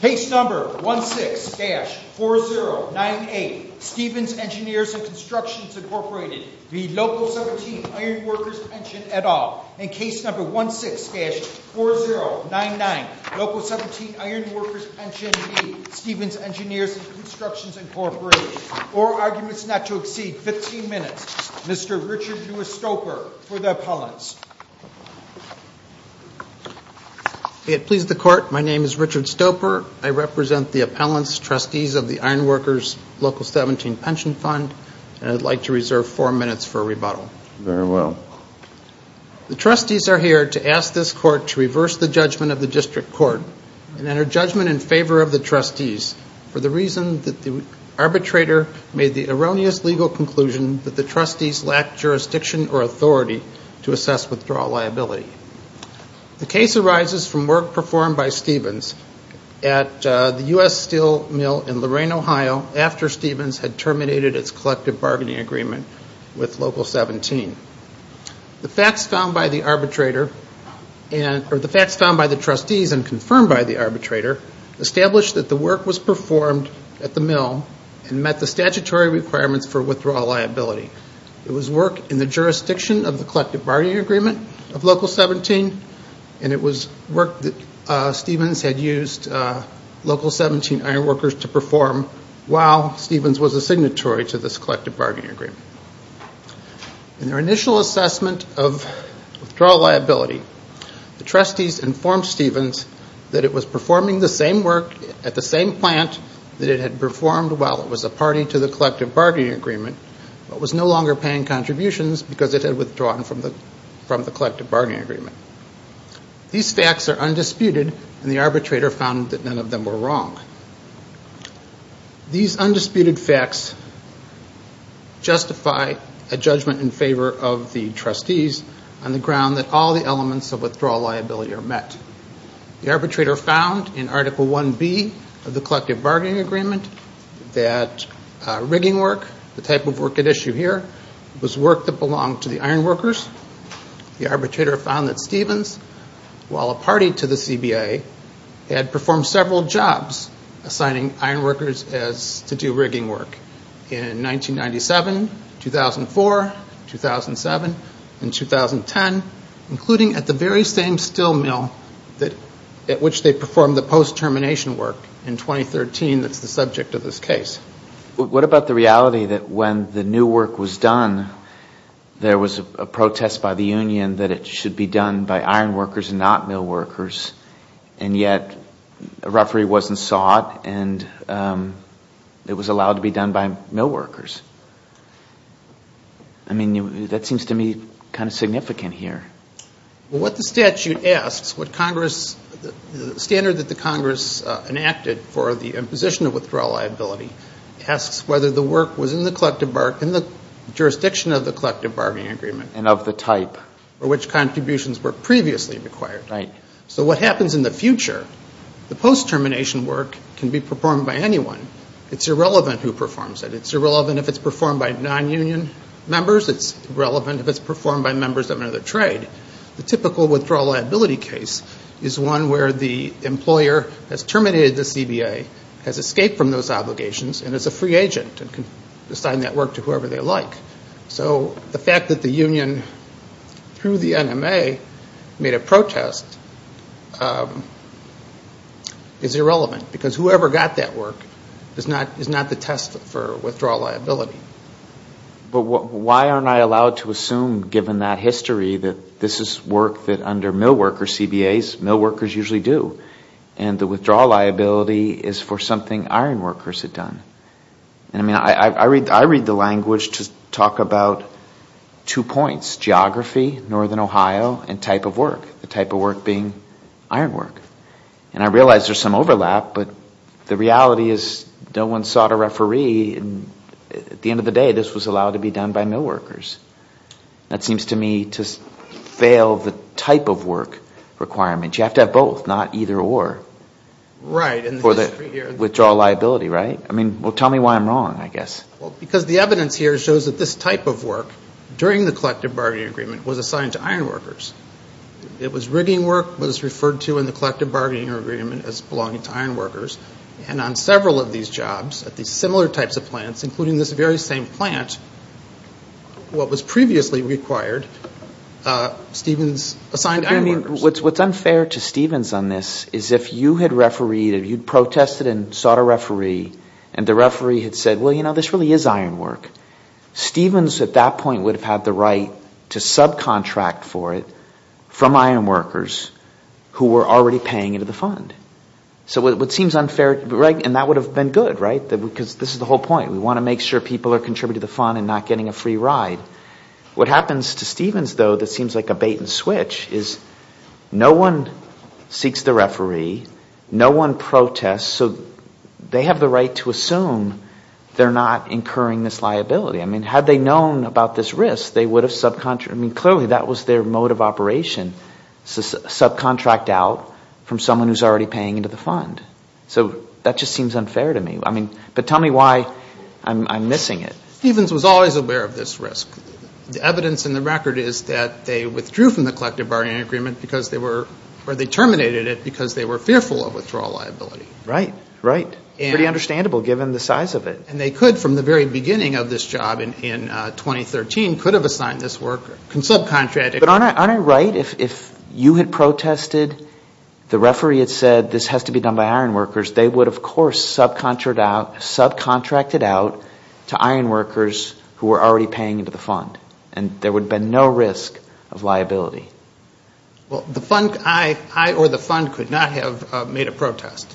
Case No. 16-4098 Stevens Engrs Constr Inc v. Local 17 Iron Workers Pension et al. Case No. 16-4099 Local 17 Iron Workers Pension v. Stevens Engrs Constr Inc Or arguments not to exceed 15 minutes. Mr. Richard Lewis Stoper for the appellants. It pleases the court. My name is Richard Stoper. I represent the appellants, trustees of the Iron Workers Local 17 Pension Fund. And I'd like to reserve four minutes for rebuttal. Very well. The trustees are here to ask this court to reverse the judgment of the district court and enter judgment in favor of the trustees for the reason that the arbitrator made the erroneous legal conclusion that the trustees lacked jurisdiction or authority to assess withdrawal liability. The case arises from work performed by Stevens at the U.S. Steel Mill in Lorain, Ohio, after Stevens had terminated its collective bargaining agreement with Local 17. The facts found by the trustees and confirmed by the arbitrator established that the work was performed at the mill and met the statutory requirements for withdrawal liability. It was work in the jurisdiction of the collective bargaining agreement of Local 17, and it was work that Stevens had used Local 17 Iron Workers to perform while Stevens was a signatory to this collective bargaining agreement. In their initial assessment of withdrawal liability, the trustees informed Stevens that it was performing the same work at the same plant that it had performed while it was a party to the collective bargaining agreement but was no longer paying contributions because it had withdrawn from the collective bargaining agreement. These facts are undisputed, and the arbitrator found that none of them were wrong. These undisputed facts justify a judgment in favor of the trustees on the ground that all the elements of withdrawal liability are met. The arbitrator found in Article 1B of the collective bargaining agreement that rigging work, the type of work at issue here, was work that belonged to the iron workers. The arbitrator found that Stevens, while a party to the CBA, had performed several jobs assigning iron workers to do rigging work in 1997, 2004, 2007, and 2010, including at the very same steel mill at which they performed the post-termination work in 2013 that's the subject of this case. What about the reality that when the new work was done, there was a protest by the union that it should be done by iron workers and not mill workers, and yet a referee wasn't sought and it was allowed to be done by mill workers? I mean, that seems to me kind of significant here. What the statute asks, the standard that the Congress enacted for the imposition of withdrawal liability asks whether the work was in the jurisdiction of the collective bargaining agreement. And of the type. Or which contributions were previously required. So what happens in the future, the post-termination work can be performed by anyone. It's irrelevant who performs it. It's irrelevant if it's performed by non-union members. It's irrelevant if it's performed by members of another trade. The typical withdrawal liability case is one where the employer has terminated the CBA, has escaped from those obligations, and is a free agent and can assign that work to whoever they like. So the fact that the union, through the NMA, made a protest is irrelevant because whoever got that work is not the test for withdrawal liability. But why aren't I allowed to assume, given that history, that this is work that under mill workers, CBAs, mill workers usually do. And the withdrawal liability is for something iron workers had done. I mean, I read the language to talk about two points. Geography, northern Ohio, and type of work. The type of work being iron work. And I realize there's some overlap, but the reality is no one sought a referee. At the end of the day, this was allowed to be done by mill workers. That seems to me to fail the type of work requirement. You have to have both, not either or for the withdrawal liability, right? I mean, well, tell me why I'm wrong, I guess. Well, because the evidence here shows that this type of work, during the collective bargaining agreement, was assigned to iron workers. It was rigging work, was referred to in the collective bargaining agreement as belonging to iron workers. And on several of these jobs, at these similar types of plants, including this very same plant, what was previously required, Stevens assigned iron workers. I mean, what's unfair to Stevens on this is if you had refereed, if you protested and sought a referee, and the referee had said, well, you know, this really is iron work. Stevens at that point would have had the right to subcontract for it from iron workers who were already paying into the fund. So what seems unfair, and that would have been good, right? Because this is the whole point. We want to make sure people are contributing to the fund and not getting a free ride. What happens to Stevens, though, that seems like a bait and switch, is no one seeks the referee, no one protests. So they have the right to assume they're not incurring this liability. I mean, had they known about this risk, they would have subcontracted. I mean, clearly that was their mode of operation, subcontract out from someone who's already paying into the fund. So that just seems unfair to me. I mean, but tell me why I'm missing it. Stevens was always aware of this risk. The evidence in the record is that they withdrew from the collective bargaining agreement because they were, or they terminated it because they were fearful of withdrawal liability. Right, right. Pretty understandable, given the size of it. And they could, from the very beginning of this job in 2013, could have assigned this worker, subcontracted. But aren't I right? If you had protested, the referee had said this has to be done by ironworkers, they would have, of course, subcontracted out to ironworkers who were already paying into the fund. And there would have been no risk of liability. Well, I or the fund could not have made a protest.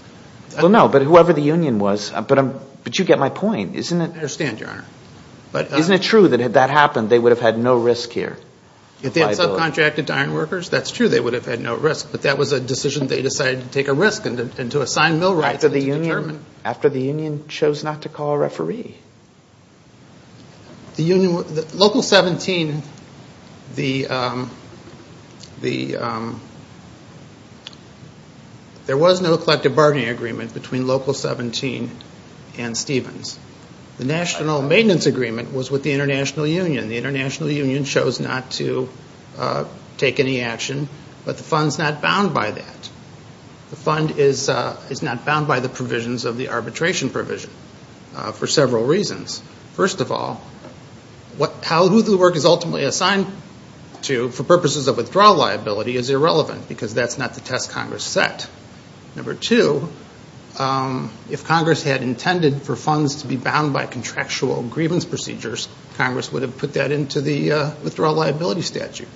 Well, no, but whoever the union was. But you get my point, isn't it? I understand, Your Honor. Isn't it true that if that happened, they would have had no risk here? If they had subcontracted to ironworkers, that's true, they would have had no risk. But that was a decision they decided to take a risk and to assign mill rights. After the union chose not to call a referee. The union, Local 17, the, there was no collective bargaining agreement between Local 17 and Stevens. The national maintenance agreement was with the international union. The international union chose not to take any action. But the fund's not bound by that. The fund is not bound by the provisions of the arbitration provision for several reasons. First of all, who the work is ultimately assigned to for purposes of withdrawal liability is irrelevant because that's not the test Congress set. Number two, if Congress had intended for funds to be bound by contractual grievance procedures, Congress would have put that into the withdrawal liability statute.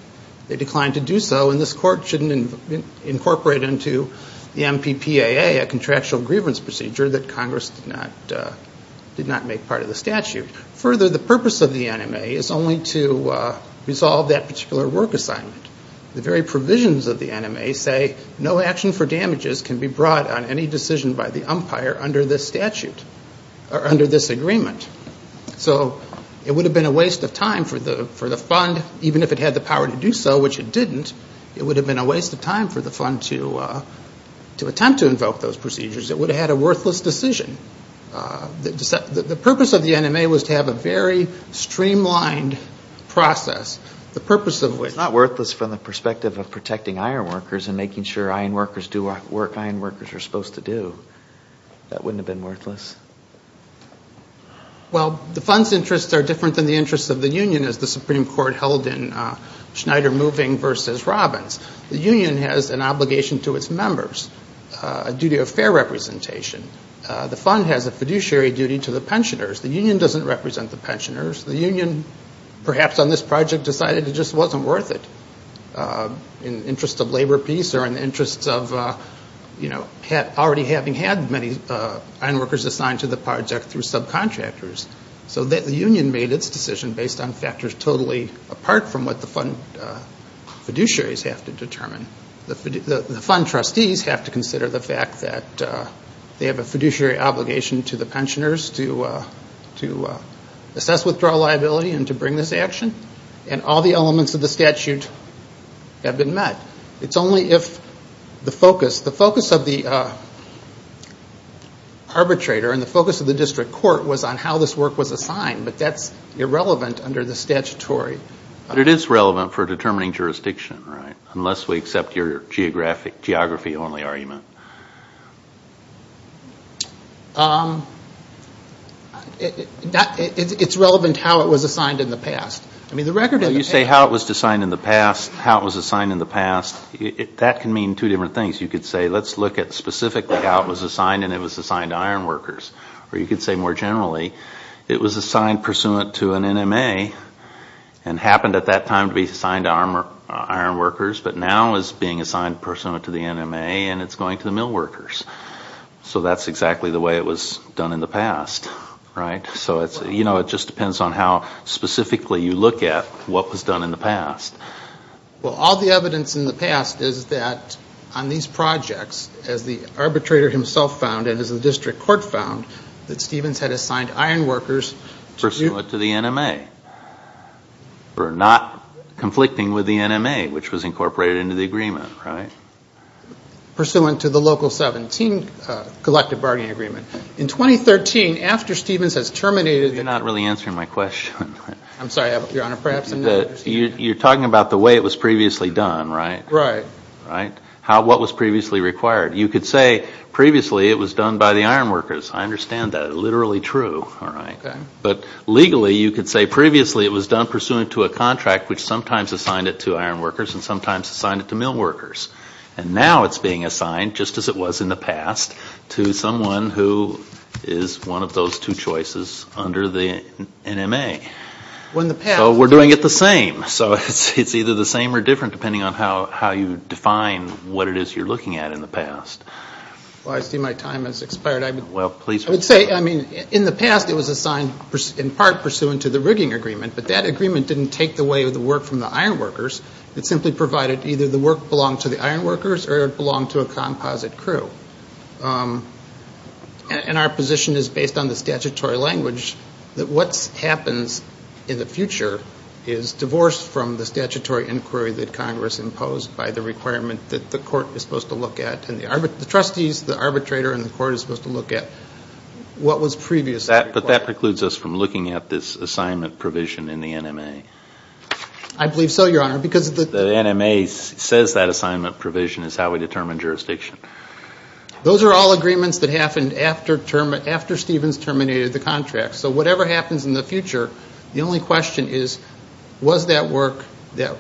They declined to do so, and this court shouldn't incorporate into the MPPAA a contractual grievance procedure that Congress did not make part of the statute. Further, the purpose of the NMA is only to resolve that particular work assignment. The very provisions of the NMA say no action for damages can be brought on any decision by the umpire under this statute or under this agreement. So it would have been a waste of time for the fund, even if it had the power to do so, which it didn't, it would have been a waste of time for the fund to attempt to invoke those procedures. It would have had a worthless decision. The purpose of the NMA was to have a very streamlined process. The purpose of which... and making sure iron workers do work iron workers are supposed to do. That wouldn't have been worthless. Well, the fund's interests are different than the interests of the union, as the Supreme Court held in Schneider Moving v. Robbins. The union has an obligation to its members, a duty of fair representation. The fund has a fiduciary duty to the pensioners. The union doesn't represent the pensioners. The union, perhaps on this project, decided it just wasn't worth it in the interest of labor peace or in the interest of already having had many iron workers assigned to the project through subcontractors. So the union made its decision based on factors totally apart from what the fund fiduciaries have to determine. The fund trustees have to consider the fact that they have a fiduciary obligation to the pensioners to assess withdrawal liability and to bring this action, and all the elements of the statute have been met. It's only if the focus of the arbitrator and the focus of the district court was on how this work was assigned, But it is relevant for determining jurisdiction, right? Unless we accept your geography-only argument. It's relevant to how it was assigned in the past. You say how it was assigned in the past, how it was assigned in the past. That can mean two different things. You could say let's look at specifically how it was assigned, and it was assigned to iron workers. Or you could say more generally it was assigned pursuant to an NMA and happened at that time to be assigned to iron workers, but now is being assigned pursuant to the NMA and it's going to the mill workers. So that's exactly the way it was done in the past, right? So it just depends on how specifically you look at what was done in the past. Well, all the evidence in the past is that on these projects, as the arbitrator himself found and as the district court found, that Stevens had assigned iron workers to the NMA. Pursuant to the NMA. Or not conflicting with the NMA, which was incorporated into the agreement, right? Pursuant to the Local 17 Collective Bargaining Agreement. In 2013, after Stevens has terminated the You're not really answering my question. I'm sorry, Your Honor, perhaps I'm not. You're talking about the way it was previously done, right? Right. What was previously required? You could say previously it was done by the iron workers. I understand that. Literally true. But legally you could say previously it was done pursuant to a contract which sometimes assigned it to iron workers and sometimes assigned it to mill workers. And now it's being assigned, just as it was in the past, to someone who is one of those two choices under the NMA. So we're doing it the same. So it's either the same or different, depending on how you define what it is you're looking at in the past. Well, I see my time has expired. I would say in the past it was assigned in part pursuant to the rigging agreement, but that agreement didn't take away the work from the iron workers. It simply provided either the work belonged to the iron workers or it belonged to a composite crew. And our position is, based on the statutory language, that what happens in the future is divorced from the statutory inquiry that Congress imposed by the requirement that the court is supposed to look at and the trustees, the arbitrator, and the court is supposed to look at what was previously required. But that precludes us from looking at this assignment provision in the NMA. I believe so, Your Honor. The NMA says that assignment provision is how we determine jurisdiction. Those are all agreements that happened after Stevens terminated the contract. So whatever happens in the future, the only question is, was that work that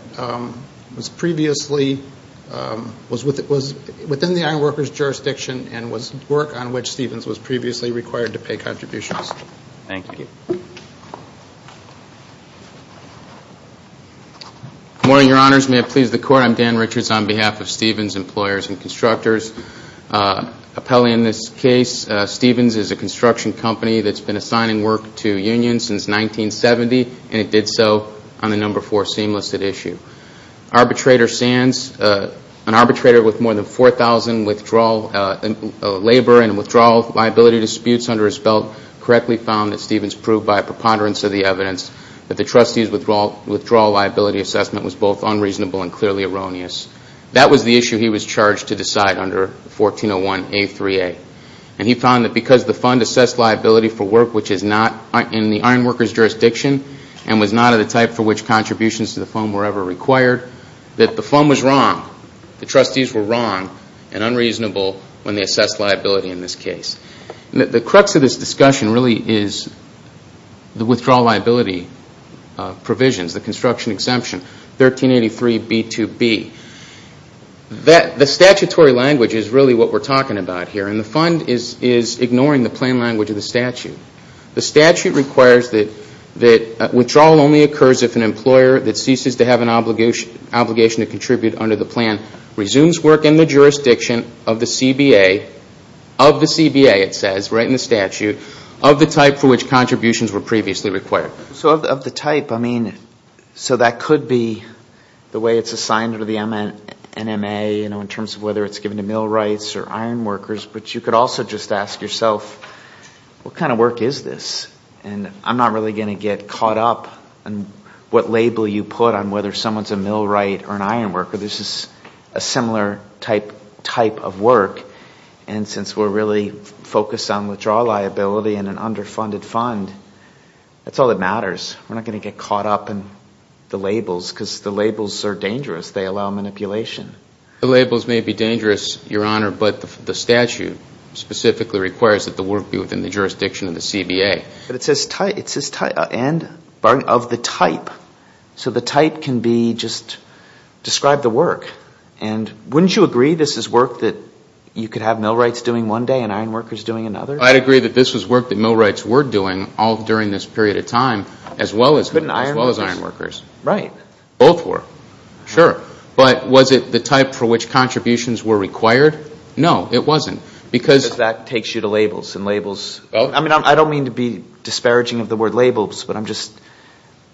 was previously within the iron workers' jurisdiction and was work on which Stevens was previously required to pay contributions? Thank you. May it please the Court. Your Honor, I'm Dan Richards on behalf of Stevens Employers and Constructors. Appellee in this case, Stevens is a construction company that's been assigning work to unions since 1970, and it did so on the No. 4 Seamless at issue. Arbitrator Sands, an arbitrator with more than 4,000 labor and withdrawal liability disputes under his belt, correctly found that Stevens proved by a preponderance of the evidence that the trustees' withdrawal liability assessment was both unreasonable and clearly erroneous. That was the issue he was charged to decide under 1401A3A. And he found that because the fund assessed liability for work which is not in the iron workers' jurisdiction and was not of the type for which contributions to the fund were ever required, that the fund was wrong, the trustees were wrong and unreasonable when they assessed liability in this case. The crux of this discussion really is the withdrawal liability provisions, the construction exemption, 1383B2B. The statutory language is really what we're talking about here, and the fund is ignoring the plan language of the statute. The statute requires that withdrawal only occurs if an employer that ceases to have an obligation to contribute under the plan resumes work in the jurisdiction of the CBA, of the CBA it says, right in the statute, of the type for which contributions were previously required. So of the type, I mean, so that could be the way it's assigned under the NMA, you know, in terms of whether it's given to millwrights or iron workers, but you could also just ask yourself, what kind of work is this? And I'm not really going to get caught up in what label you put on whether someone's a millwright or an iron worker. This is a similar type of work, and since we're really focused on withdrawal liability and an underfunded fund, that's all that matters. We're not going to get caught up in the labels because the labels are dangerous. They allow manipulation. The labels may be dangerous, Your Honor, but the statute specifically requires that the work be within the jurisdiction of the CBA. But it says type, and of the type. So the type can be just describe the work. And wouldn't you agree this is work that you could have millwrights doing one day and iron workers doing another? I'd agree that this was work that millwrights were doing all during this period of time as well as iron workers. Right. Both were. Sure. But was it the type for which contributions were required? No, it wasn't. Because that takes you to labels and labels. I mean, I don't mean to be disparaging of the word labels, but I'm just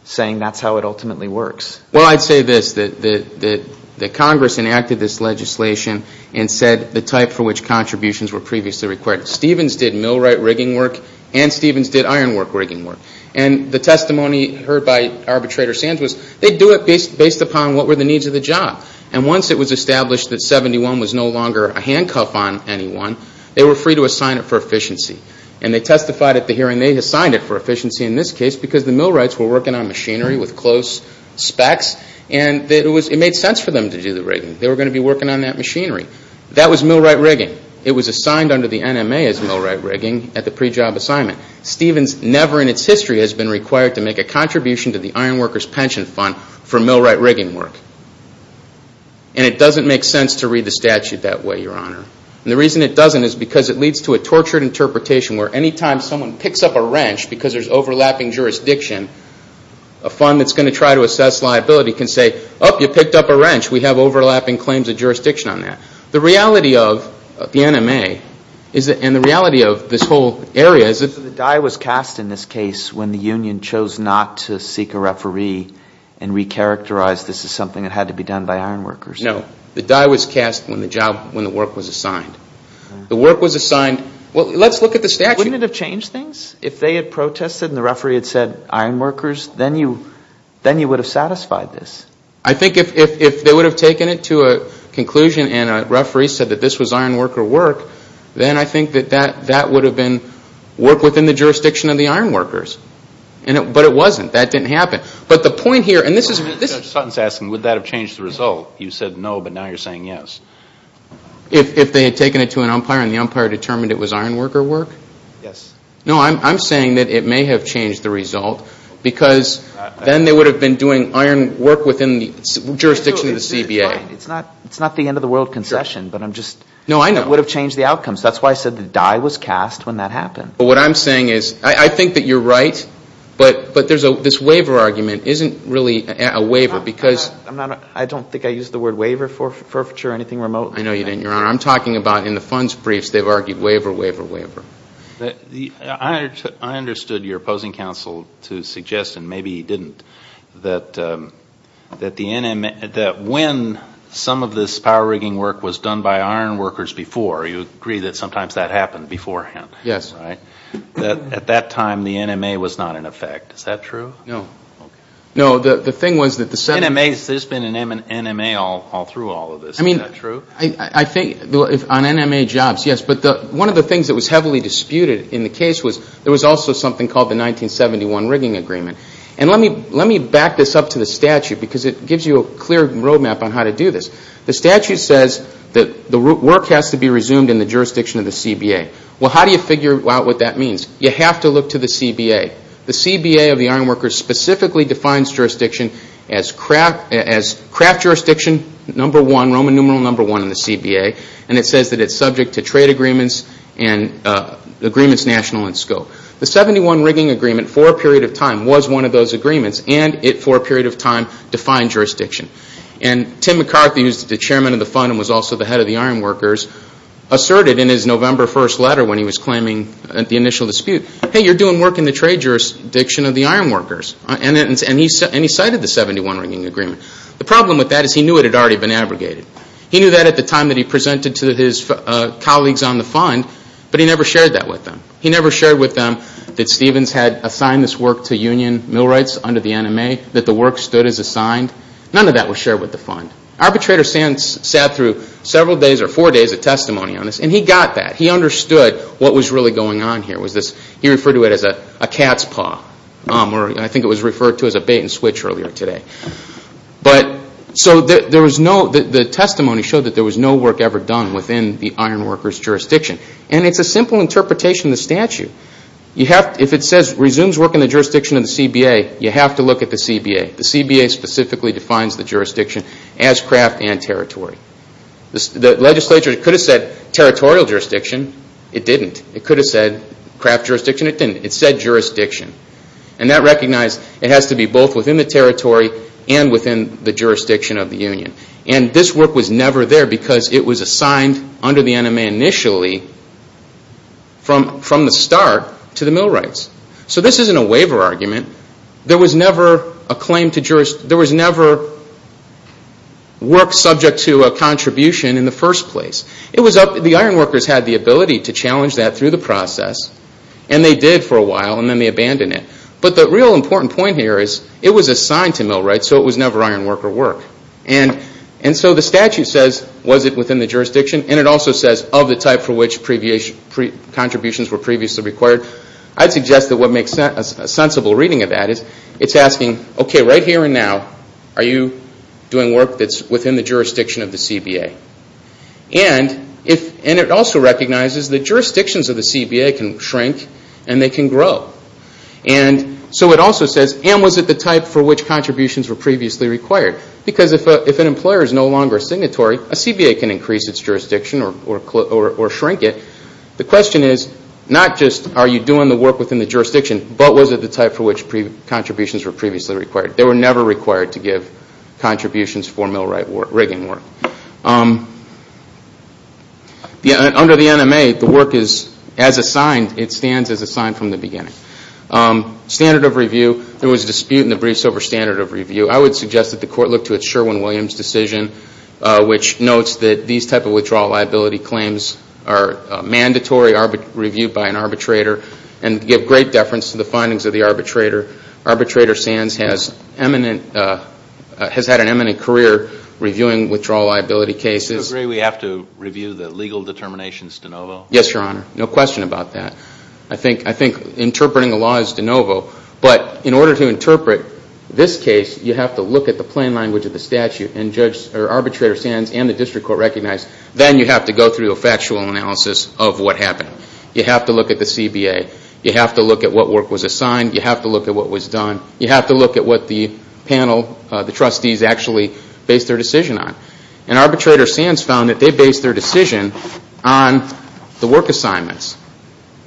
saying that's how it ultimately works. Well, I'd say this, that Congress enacted this legislation and said the type for which contributions were previously required. Stevens did millwright rigging work, and Stevens did iron work rigging work. And the testimony heard by Arbitrator Sands was they'd do it based upon what were the needs of the job. And once it was established that 71 was no longer a handcuff on anyone, they were free to assign it for efficiency. And they testified at the hearing they assigned it for efficiency in this case because the millwrights were working on machinery with close specs. And it made sense for them to do the rigging. They were going to be working on that machinery. That was millwright rigging. It was assigned under the NMA as millwright rigging at the pre-job assignment. Stevens never in its history has been required to make a contribution to the iron workers pension fund for millwright rigging work. And it doesn't make sense to read the statute that way, Your Honor. And the reason it doesn't is because it leads to a tortured interpretation where any time someone picks up a wrench because there's overlapping jurisdiction, a fund that's going to try to assess liability can say, oh, you picked up a wrench. We have overlapping claims of jurisdiction on that. The reality of the NMA and the reality of this whole area is that the die was cast in this case when the union chose not to seek a referee and recharacterized this as something that had to be done by iron workers. No. The die was cast when the work was assigned. The work was assigned. Well, let's look at the statute. Wouldn't it have changed things if they had protested and the referee had said iron workers? Then you would have satisfied this. I think if they would have taken it to a conclusion and a referee said that this was iron worker work, then I think that that would have been work within the jurisdiction of the iron workers. But it wasn't. That didn't happen. Judge Sutton is asking, would that have changed the result? You said no, but now you're saying yes. If they had taken it to an umpire and the umpire determined it was iron worker work? Yes. No, I'm saying that it may have changed the result because then they would have been doing iron work within the jurisdiction of the CBA. It's not the end of the world concession. No, I know. It would have changed the outcomes. That's why I said the die was cast when that happened. What I'm saying is I think that you're right, but this waiver argument isn't really a waiver because I don't think I used the word waiver for furfiture or anything remote. I know you didn't, Your Honor. I'm talking about in the funds briefs they've argued waiver, waiver, waiver. I understood your opposing counsel to suggest, and maybe he didn't, that when some of this power rigging work was done by iron workers before, you agree that sometimes that happened beforehand. Yes. At that time the NMA was not in effect. Is that true? No. Okay. No, the thing was that the 7- NMA, there's been an NMA all through all of this. Is that true? I think on NMA jobs, yes. But one of the things that was heavily disputed in the case was there was also something called the 1971 rigging agreement. And let me back this up to the statute because it gives you a clear roadmap on how to do this. The statute says that the work has to be resumed in the jurisdiction of the CBA. Well, how do you figure out what that means? You have to look to the CBA. The CBA of the iron workers specifically defines jurisdiction as craft jurisdiction number one, Roman numeral number one in the CBA, and it says that it's subject to trade agreements and agreements national in scope. The 71 rigging agreement for a period of time was one of those agreements and it for a period of time defined jurisdiction. And Tim McCarthy, who's the chairman of the fund and was also the head of the iron workers, asserted in his November 1st letter when he was claiming the initial dispute, hey, you're doing work in the trade jurisdiction of the iron workers. And he cited the 71 rigging agreement. The problem with that is he knew it had already been abrogated. He knew that at the time that he presented to his colleagues on the fund, but he never shared that with them. He never shared with them that Stevens had assigned this work to union mill rights under the NMA, that the work stood as assigned. None of that was shared with the fund. Arbitrator Sands sat through several days or four days of testimony on this, and he got that. He understood what was really going on here. He referred to it as a cat's paw, or I think it was referred to as a bait and switch earlier today. So the testimony showed that there was no work ever done within the iron workers' jurisdiction. And it's a simple interpretation of the statute. If it says resumes work in the jurisdiction of the CBA, you have to look at the CBA. The CBA specifically defines the jurisdiction as craft and territory. The legislature could have said territorial jurisdiction. It didn't. It could have said craft jurisdiction. It didn't. It said jurisdiction. And that recognized it has to be both within the territory and within the jurisdiction of the union. And this work was never there because it was assigned under the NMA initially from the start to the mill rights. So this isn't a waiver argument. There was never work subject to a contribution in the first place. The iron workers had the ability to challenge that through the process, and they did for a while, and then they abandoned it. But the real important point here is it was assigned to mill rights, so it was never iron worker work. And so the statute says was it within the jurisdiction, and it also says of the type for which contributions were previously required. I'd suggest that what makes a sensible reading of that is it's asking, okay, right here and now, are you doing work that's within the jurisdiction of the CBA? And it also recognizes that jurisdictions of the CBA can shrink and they can grow. And so it also says, and was it the type for which contributions were previously required? Because if an employer is no longer signatory, a CBA can increase its jurisdiction or shrink it. The question is not just are you doing the work within the jurisdiction, but was it the type for which contributions were previously required? They were never required to give contributions for mill rigging work. Under the NMA, the work is as assigned. It stands as assigned from the beginning. Standard of review, there was a dispute in the briefs over standard of review. I would suggest that the court look to its Sherwin-Williams decision, which notes that these type of withdrawal liability claims are mandatory, reviewed by an arbitrator, and give great deference to the findings of the arbitrator. Arbitrator Sands has had an eminent career reviewing withdrawal liability cases. Do you agree we have to review the legal determinations de novo? Yes, Your Honor. No question about that. I think interpreting the law is de novo. But in order to interpret this case, you have to look at the plain language of the statute and arbitrator Sands and the district court recognize, then you have to go through a factual analysis of what happened. You have to look at the CBA. You have to look at what work was assigned. You have to look at what was done. You have to look at what the panel, the trustees, actually based their decision on. And arbitrator Sands found that they based their decision on the work assignments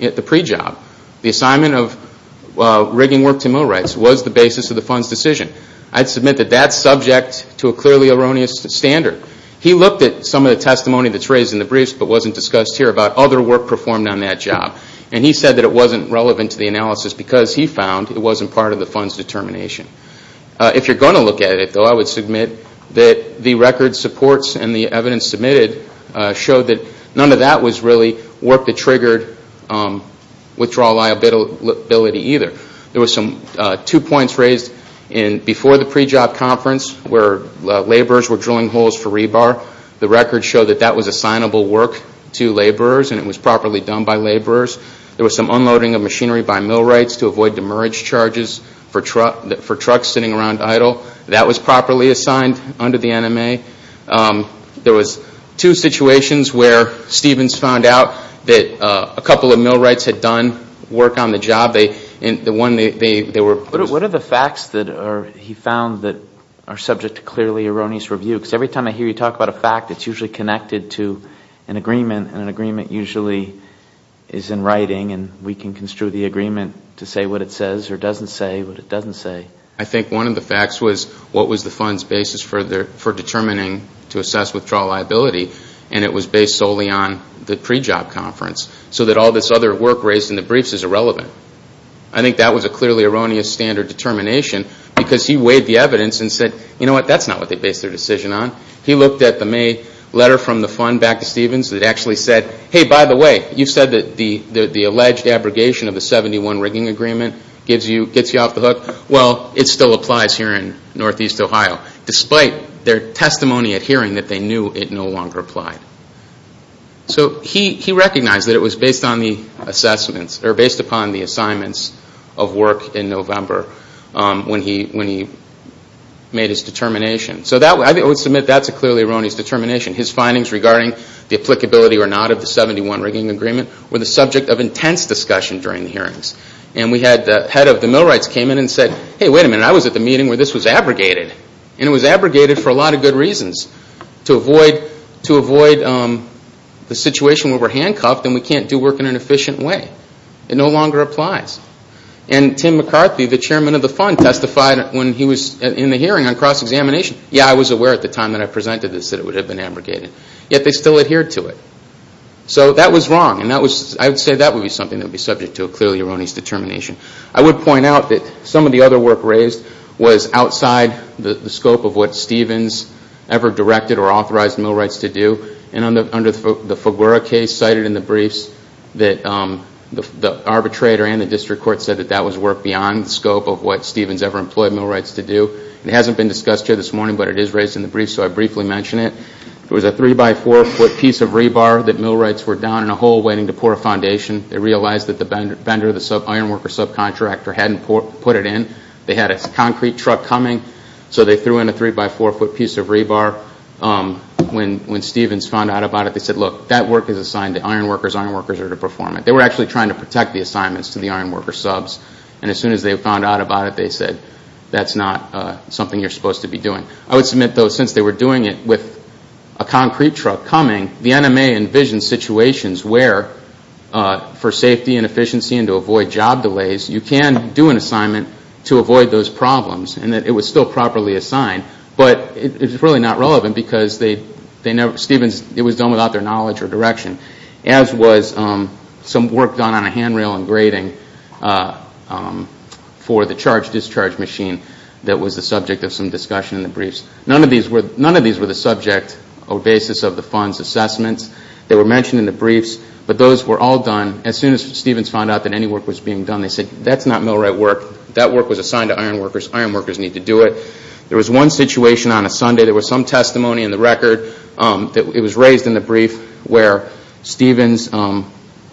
at the pre-job. The assignment of rigging work to mill rights was the basis of the fund's decision. I'd submit that that's subject to a clearly erroneous standard. He looked at some of the testimony that's raised in the briefs but wasn't discussed here about other work performed on that job. And he said that it wasn't relevant to the analysis because he found it wasn't part of the fund's determination. If you're going to look at it, though, I would submit that the record supports and the evidence submitted showed that none of that was really work that triggered withdrawal liability either. There were two points raised before the pre-job conference where laborers were drilling holes for rebar. The record showed that that was assignable work to laborers and it was properly done by laborers. There was some unloading of machinery by mill rights to avoid demerit charges for trucks sitting around idle. That was properly assigned under the NMA. There were two situations where Stevens found out that a couple of mill rights had done work on the job. What are the facts that he found that are subject to clearly erroneous review? Because every time I hear you talk about a fact it's usually connected to an agreement and an agreement usually is in writing and we can construe the agreement to say what it says or doesn't say what it doesn't say. I think one of the facts was what was the fund's basis for determining to assess withdrawal liability and it was based solely on the pre-job conference. So that all this other work raised in the briefs is irrelevant. I think that was a clearly erroneous standard determination because he weighed the evidence and said, you know what, that's not what they based their decision on. He looked at the May letter from the fund back to Stevens that actually said, hey, by the way, you said that the alleged abrogation of the 71 rigging agreement gets you off the hook. Well, it still applies here in northeast Ohio despite their testimony at hearing that they knew it no longer applied. So he recognized that it was based on the assignments of work in November when he made his determination. So I would submit that's a clearly erroneous determination. His findings regarding the applicability or not of the 71 rigging agreement were the subject of intense discussion during the hearings. And the head of the millwrights came in and said, hey, wait a minute, I was at the meeting where this was abrogated. And it was abrogated for a lot of good reasons. To avoid the situation where we're handcuffed and we can't do work in an efficient way. It no longer applies. And Tim McCarthy, the chairman of the fund, testified when he was in the hearing on cross-examination. Yeah, I was aware at the time that I presented this that it would have been abrogated. Yet they still adhered to it. So that was wrong. And I would say that would be something that would be subject to a clearly erroneous determination. I would point out that some of the other work raised was outside the scope of what Stevens ever directed or authorized millwrights to do. And under the Figueroa case cited in the briefs, the arbitrator and the district court said that that was work beyond the scope of what Stevens ever employed millwrights to do. It hasn't been discussed here this morning, but it is raised in the briefs, so I briefly mention it. It was a three-by-four foot piece of rebar that millwrights were down in a hole waiting to pour a foundation. They realized that the vendor, the ironworker subcontractor, hadn't put it in. They had a concrete truck coming, so they threw in a three-by-four foot piece of rebar. When Stevens found out about it, they said, look, that work is assigned to ironworkers. Ironworkers are to perform it. They were actually trying to protect the assignments to the ironworker subs. And as soon as they found out about it, they said, that's not something you're supposed to be doing. I would submit, though, since they were doing it with a concrete truck coming, the NMA envisioned situations where for safety and efficiency and to avoid job delays, you can do an assignment to avoid those problems, and that it was still properly assigned. But it was really not relevant because it was done without their knowledge or direction, as was some work done on a handrail and grading for the charge-discharge machine that was the subject of some discussion in the briefs. None of these were the subject or basis of the fund's assessments. They were mentioned in the briefs, but those were all done. As soon as Stevens found out that any work was being done, they said, that's not millwright work. That work was assigned to ironworkers. Ironworkers need to do it. There was one situation on a Sunday. There was some testimony in the record. It was raised in the brief where Stevens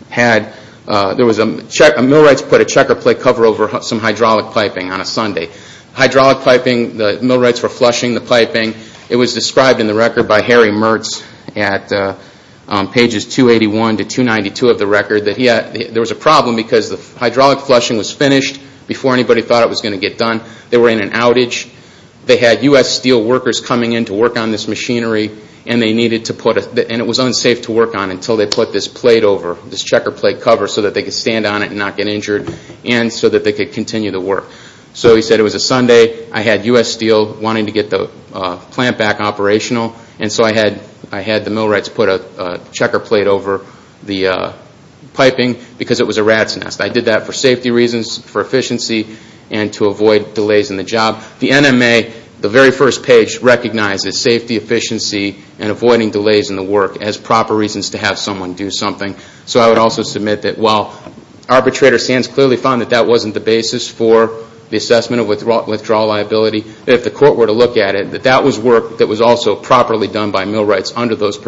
had – millwrights put a checker plate cover over some hydraulic piping on a Sunday. Hydraulic piping, the millwrights were flushing the piping. It was described in the record by Harry Mertz at pages 281 to 292 of the record that there was a problem because the hydraulic flushing was finished before anybody thought it was going to get done. They were in an outage. They had U.S. steelworkers coming in to work on this machinery, and it was unsafe to work on until they put this plate over, this checker plate cover so that they could stand on it and not get injured, and so that they could continue the work. So he said, it was a Sunday. I had U.S. steel wanting to get the plant back operational, and so I had the millwrights put a checker plate over the piping because it was a rat's nest. I did that for safety reasons, for efficiency, and to avoid delays in the job. The NMA, the very first page, recognizes safety, efficiency, and avoiding delays in the work as proper reasons to have someone do something. So I would also submit that while arbitrator Sands clearly found that that wasn't the basis for the assessment of withdrawal liability, that if the court were to look at it, that that was work that was also properly done by millwrights under that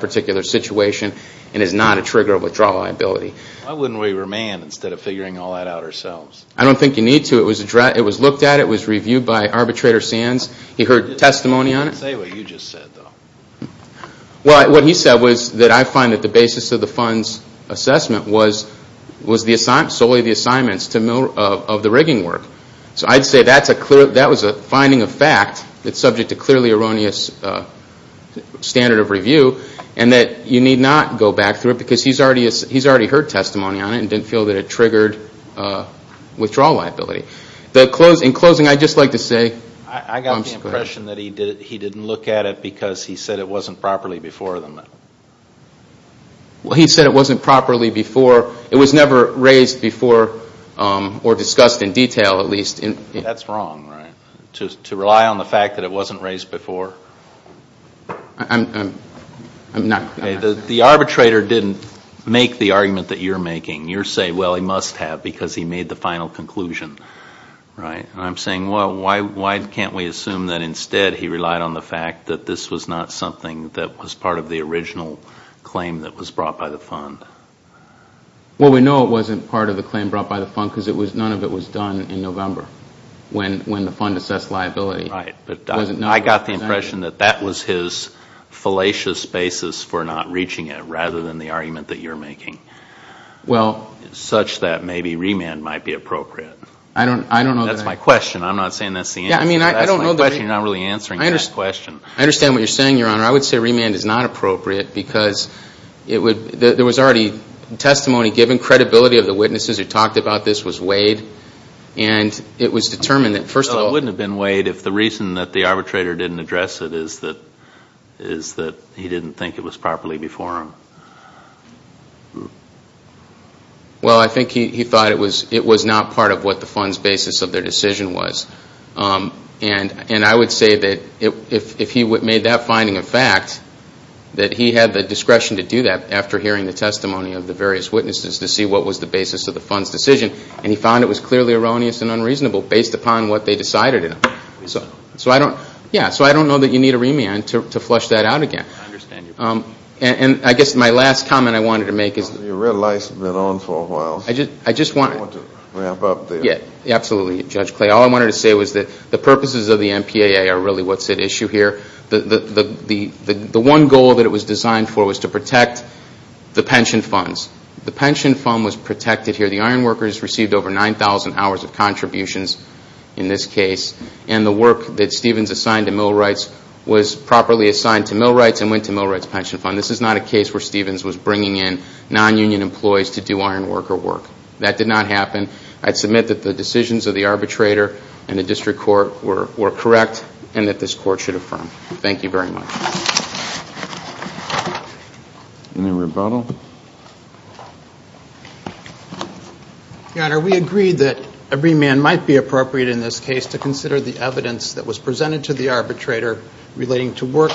particular situation and is not a trigger of withdrawal liability. Why wouldn't we remand instead of figuring all that out ourselves? I don't think you need to. It was looked at. It was reviewed by arbitrator Sands. He heard testimony on it. Say what you just said, though. What he said was that I find that the basis of the fund's assessment was solely the assignments of the rigging work. So I'd say that was a finding of fact that's subject to clearly erroneous standard of review and that you need not go back through it because he's already heard testimony on it and didn't feel that it triggered withdrawal liability. In closing, I'd just like to say... Well, he said it wasn't properly before. It was never raised before or discussed in detail, at least. That's wrong, right, to rely on the fact that it wasn't raised before? I'm not... The arbitrator didn't make the argument that you're making. You're saying, well, he must have because he made the final conclusion, right? And I'm saying, well, why can't we assume that instead he relied on the fact that this was not something that was part of the original claim that was brought by the fund? Well, we know it wasn't part of the claim brought by the fund because none of it was done in November when the fund assessed liability. Right, but I got the impression that that was his fallacious basis for not reaching it rather than the argument that you're making. Well... Such that maybe remand might be appropriate. I don't know that I... That's my question. I'm not saying that's the answer. That's my question. You're not really answering that question. I understand what you're saying, Your Honor. I would say remand is not appropriate because there was already testimony given. Credibility of the witnesses who talked about this was weighed. And it was determined that, first of all... Well, it wouldn't have been weighed if the reason that the arbitrator didn't address it is that he didn't think it was properly before him. Well, I think he thought it was not part of what the fund's basis of their decision was. And I would say that if he made that finding a fact, that he had the discretion to do that after hearing the testimony of the various witnesses to see what was the basis of the fund's decision. And he found it was clearly erroneous and unreasonable based upon what they decided in it. So I don't know that you need a remand to flush that out again. I understand your point. And I guess my last comment I wanted to make is... Your red lights have been on for a while. I just want... I want to wrap up there. Absolutely, Judge Clay. All I wanted to say was that the purposes of the MPAA are really what's at issue here. The one goal that it was designed for was to protect the pension funds. The pension fund was protected here. The iron workers received over 9,000 hours of contributions in this case. And the work that Stevens assigned to millwrights was properly assigned to millwrights and went to millwrights pension fund. This is not a case where Stevens was bringing in non-union employees to do iron worker work. That did not happen. I'd submit that the decisions of the arbitrator and the district court were correct and that this court should affirm. Thank you very much. Any rebuttal? Your Honor, we agreed that a remand might be appropriate in this case to consider the evidence that was presented to the arbitrator relating to work,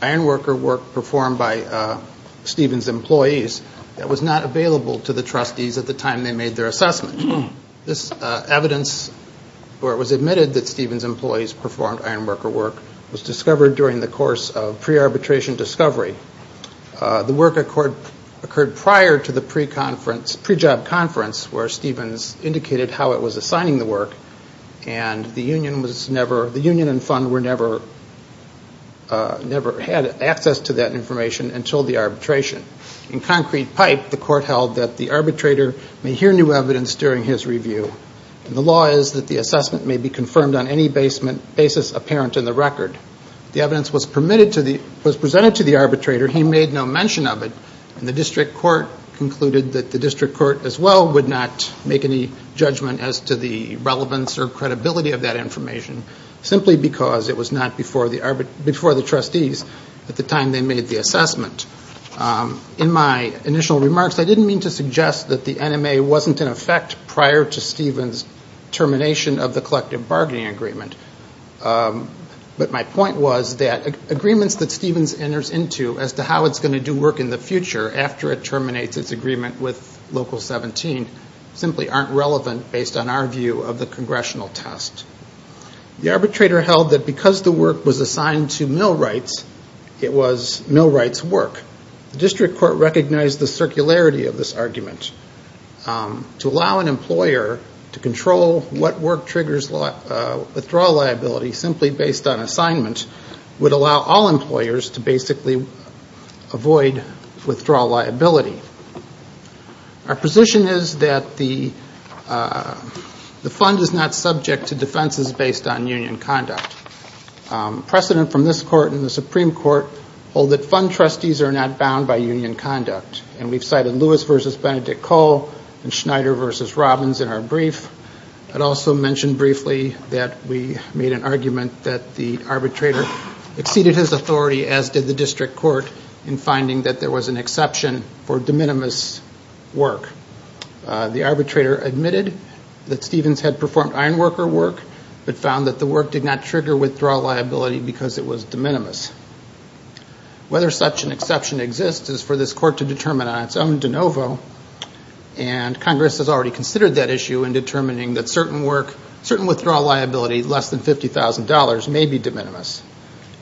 iron worker work performed by Stevens' employees that was not available to the trustees at the time they made their assessment. This evidence where it was admitted that Stevens' employees performed iron worker work was discovered during the course of pre-arbitration discovery. The work occurred prior to the pre-job conference where Stevens indicated how it was assigning the work and the union and fund never had access to that information until the arbitration. In concrete pipe, the court held that the arbitrator may hear new evidence during his review and the law is that the assessment may be confirmed on any basis apparent in the record. The evidence was presented to the arbitrator, he made no mention of it, and the district court concluded that the district court as well would not make any judgment as to the relevance or credibility of that information simply because it was not before the trustees at the time they made the assessment. In my initial remarks, I didn't mean to suggest that the NMA wasn't in effect prior to Stevens' termination of the collective bargaining agreement, but my point was that agreements that Stevens enters into as to how it's going to do work in the future after it terminates its agreement with Local 17 simply aren't relevant based on our view of the congressional test. The arbitrator held that because the work was assigned to millwrights, it was millwrights' work. The district court recognized the circularity of this argument. To allow an employer to control what work triggers withdrawal liability simply based on assignment would allow all employers to basically avoid withdrawal liability. Our position is that the fund is not subject to defenses based on union conduct. Precedent from this court and the Supreme Court hold that fund trustees are not bound by union conduct, and we've cited Lewis v. Benedict Cole and Schneider v. Robbins in our brief. I'd also mention briefly that we made an argument that the arbitrator exceeded his authority, as did the district court, in finding that there was an exception for de minimis work. The arbitrator admitted that Stevens had performed iron worker work, but found that the work did not trigger withdrawal liability because it was de minimis. Whether such an exception exists is for this court to determine on its own de novo, and Congress has already considered that issue in determining that certain work, certain withdrawal liability less than $50,000 may be de minimis.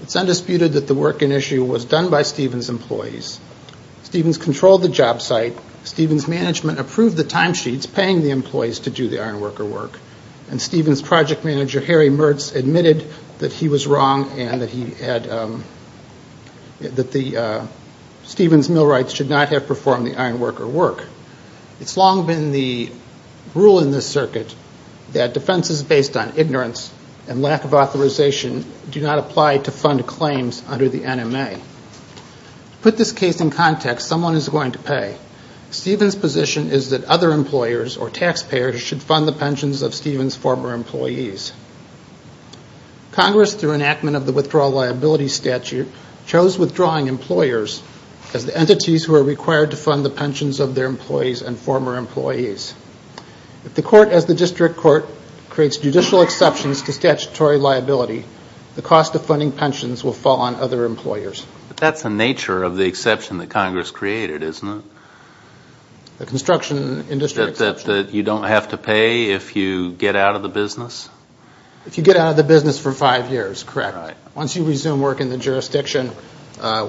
It's undisputed that the work in issue was done by Stevens' employees. Stevens controlled the job site. Stevens' management approved the timesheets paying the employees to do the iron worker work, and Stevens' project manager, Harry Mertz, admitted that he was wrong and that Stevens' millwrights should not have performed the iron worker work. It's long been the rule in this circuit that defenses based on ignorance and lack of authorization do not apply to fund claims under the NMA. To put this case in context, someone is going to pay. Stevens' position is that other employers or taxpayers should fund the pensions of Stevens' former employees. Congress, through enactment of the Withdrawal Liability Statute, chose withdrawing employers as the entities who are required to fund the pensions of their employees and former employees. If the court, as the district court, creates judicial exceptions to statutory liability, the cost of funding pensions will fall on other employers. But that's the nature of the exception that Congress created, isn't it? The construction industry exception. Is it the case that you don't have to pay if you get out of the business? If you get out of the business for five years, correct. Once you resume work in the jurisdiction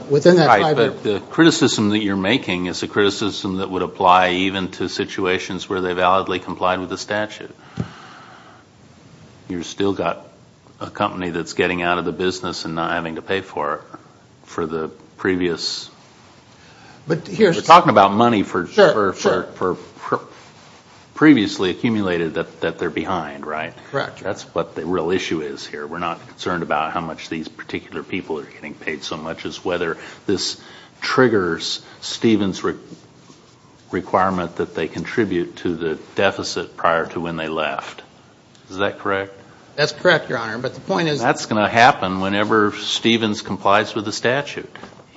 within that five years. The criticism that you're making is a criticism that would apply even to situations where they validly complied with the statute. You've still got a company that's getting out of the business and not having to pay for it for the previous. We're talking about money for previously accumulated that they're behind, right? Correct. That's what the real issue is here. We're not concerned about how much these particular people are getting paid so much as whether this triggers Stevens' requirement that they contribute to the deficit prior to when they left. Is that correct? That's correct, Your Honor, but the point is. That's going to happen whenever Stevens complies with the statute.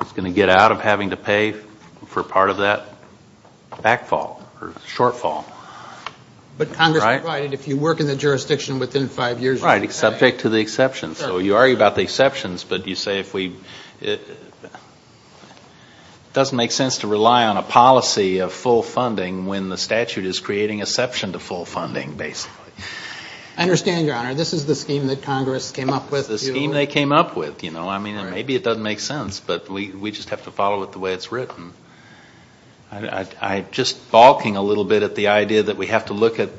He's going to get out of having to pay for part of that backfall or shortfall. But Congress provided if you work in the jurisdiction within five years. Right, subject to the exceptions. So you argue about the exceptions, but you say if we... It doesn't make sense to rely on a policy of full funding when the statute is creating exception to full funding, basically. I understand, Your Honor. This is the scheme that Congress came up with. The scheme they came up with. I mean, maybe it doesn't make sense, but we just have to follow it the way it's written. I'm just balking a little bit at the idea that we have to look at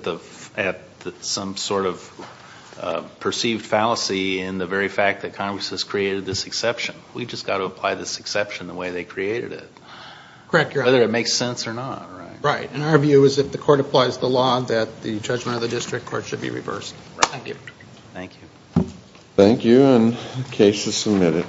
some sort of perceived fallacy in the very fact that Congress has created this exception. We've just got to apply this exception the way they created it. Correct, Your Honor. Whether it makes sense or not, right? Right, and our view is if the court applies the law that the judgment of the district court should be reversed. Thank you. Thank you. The case is submitted.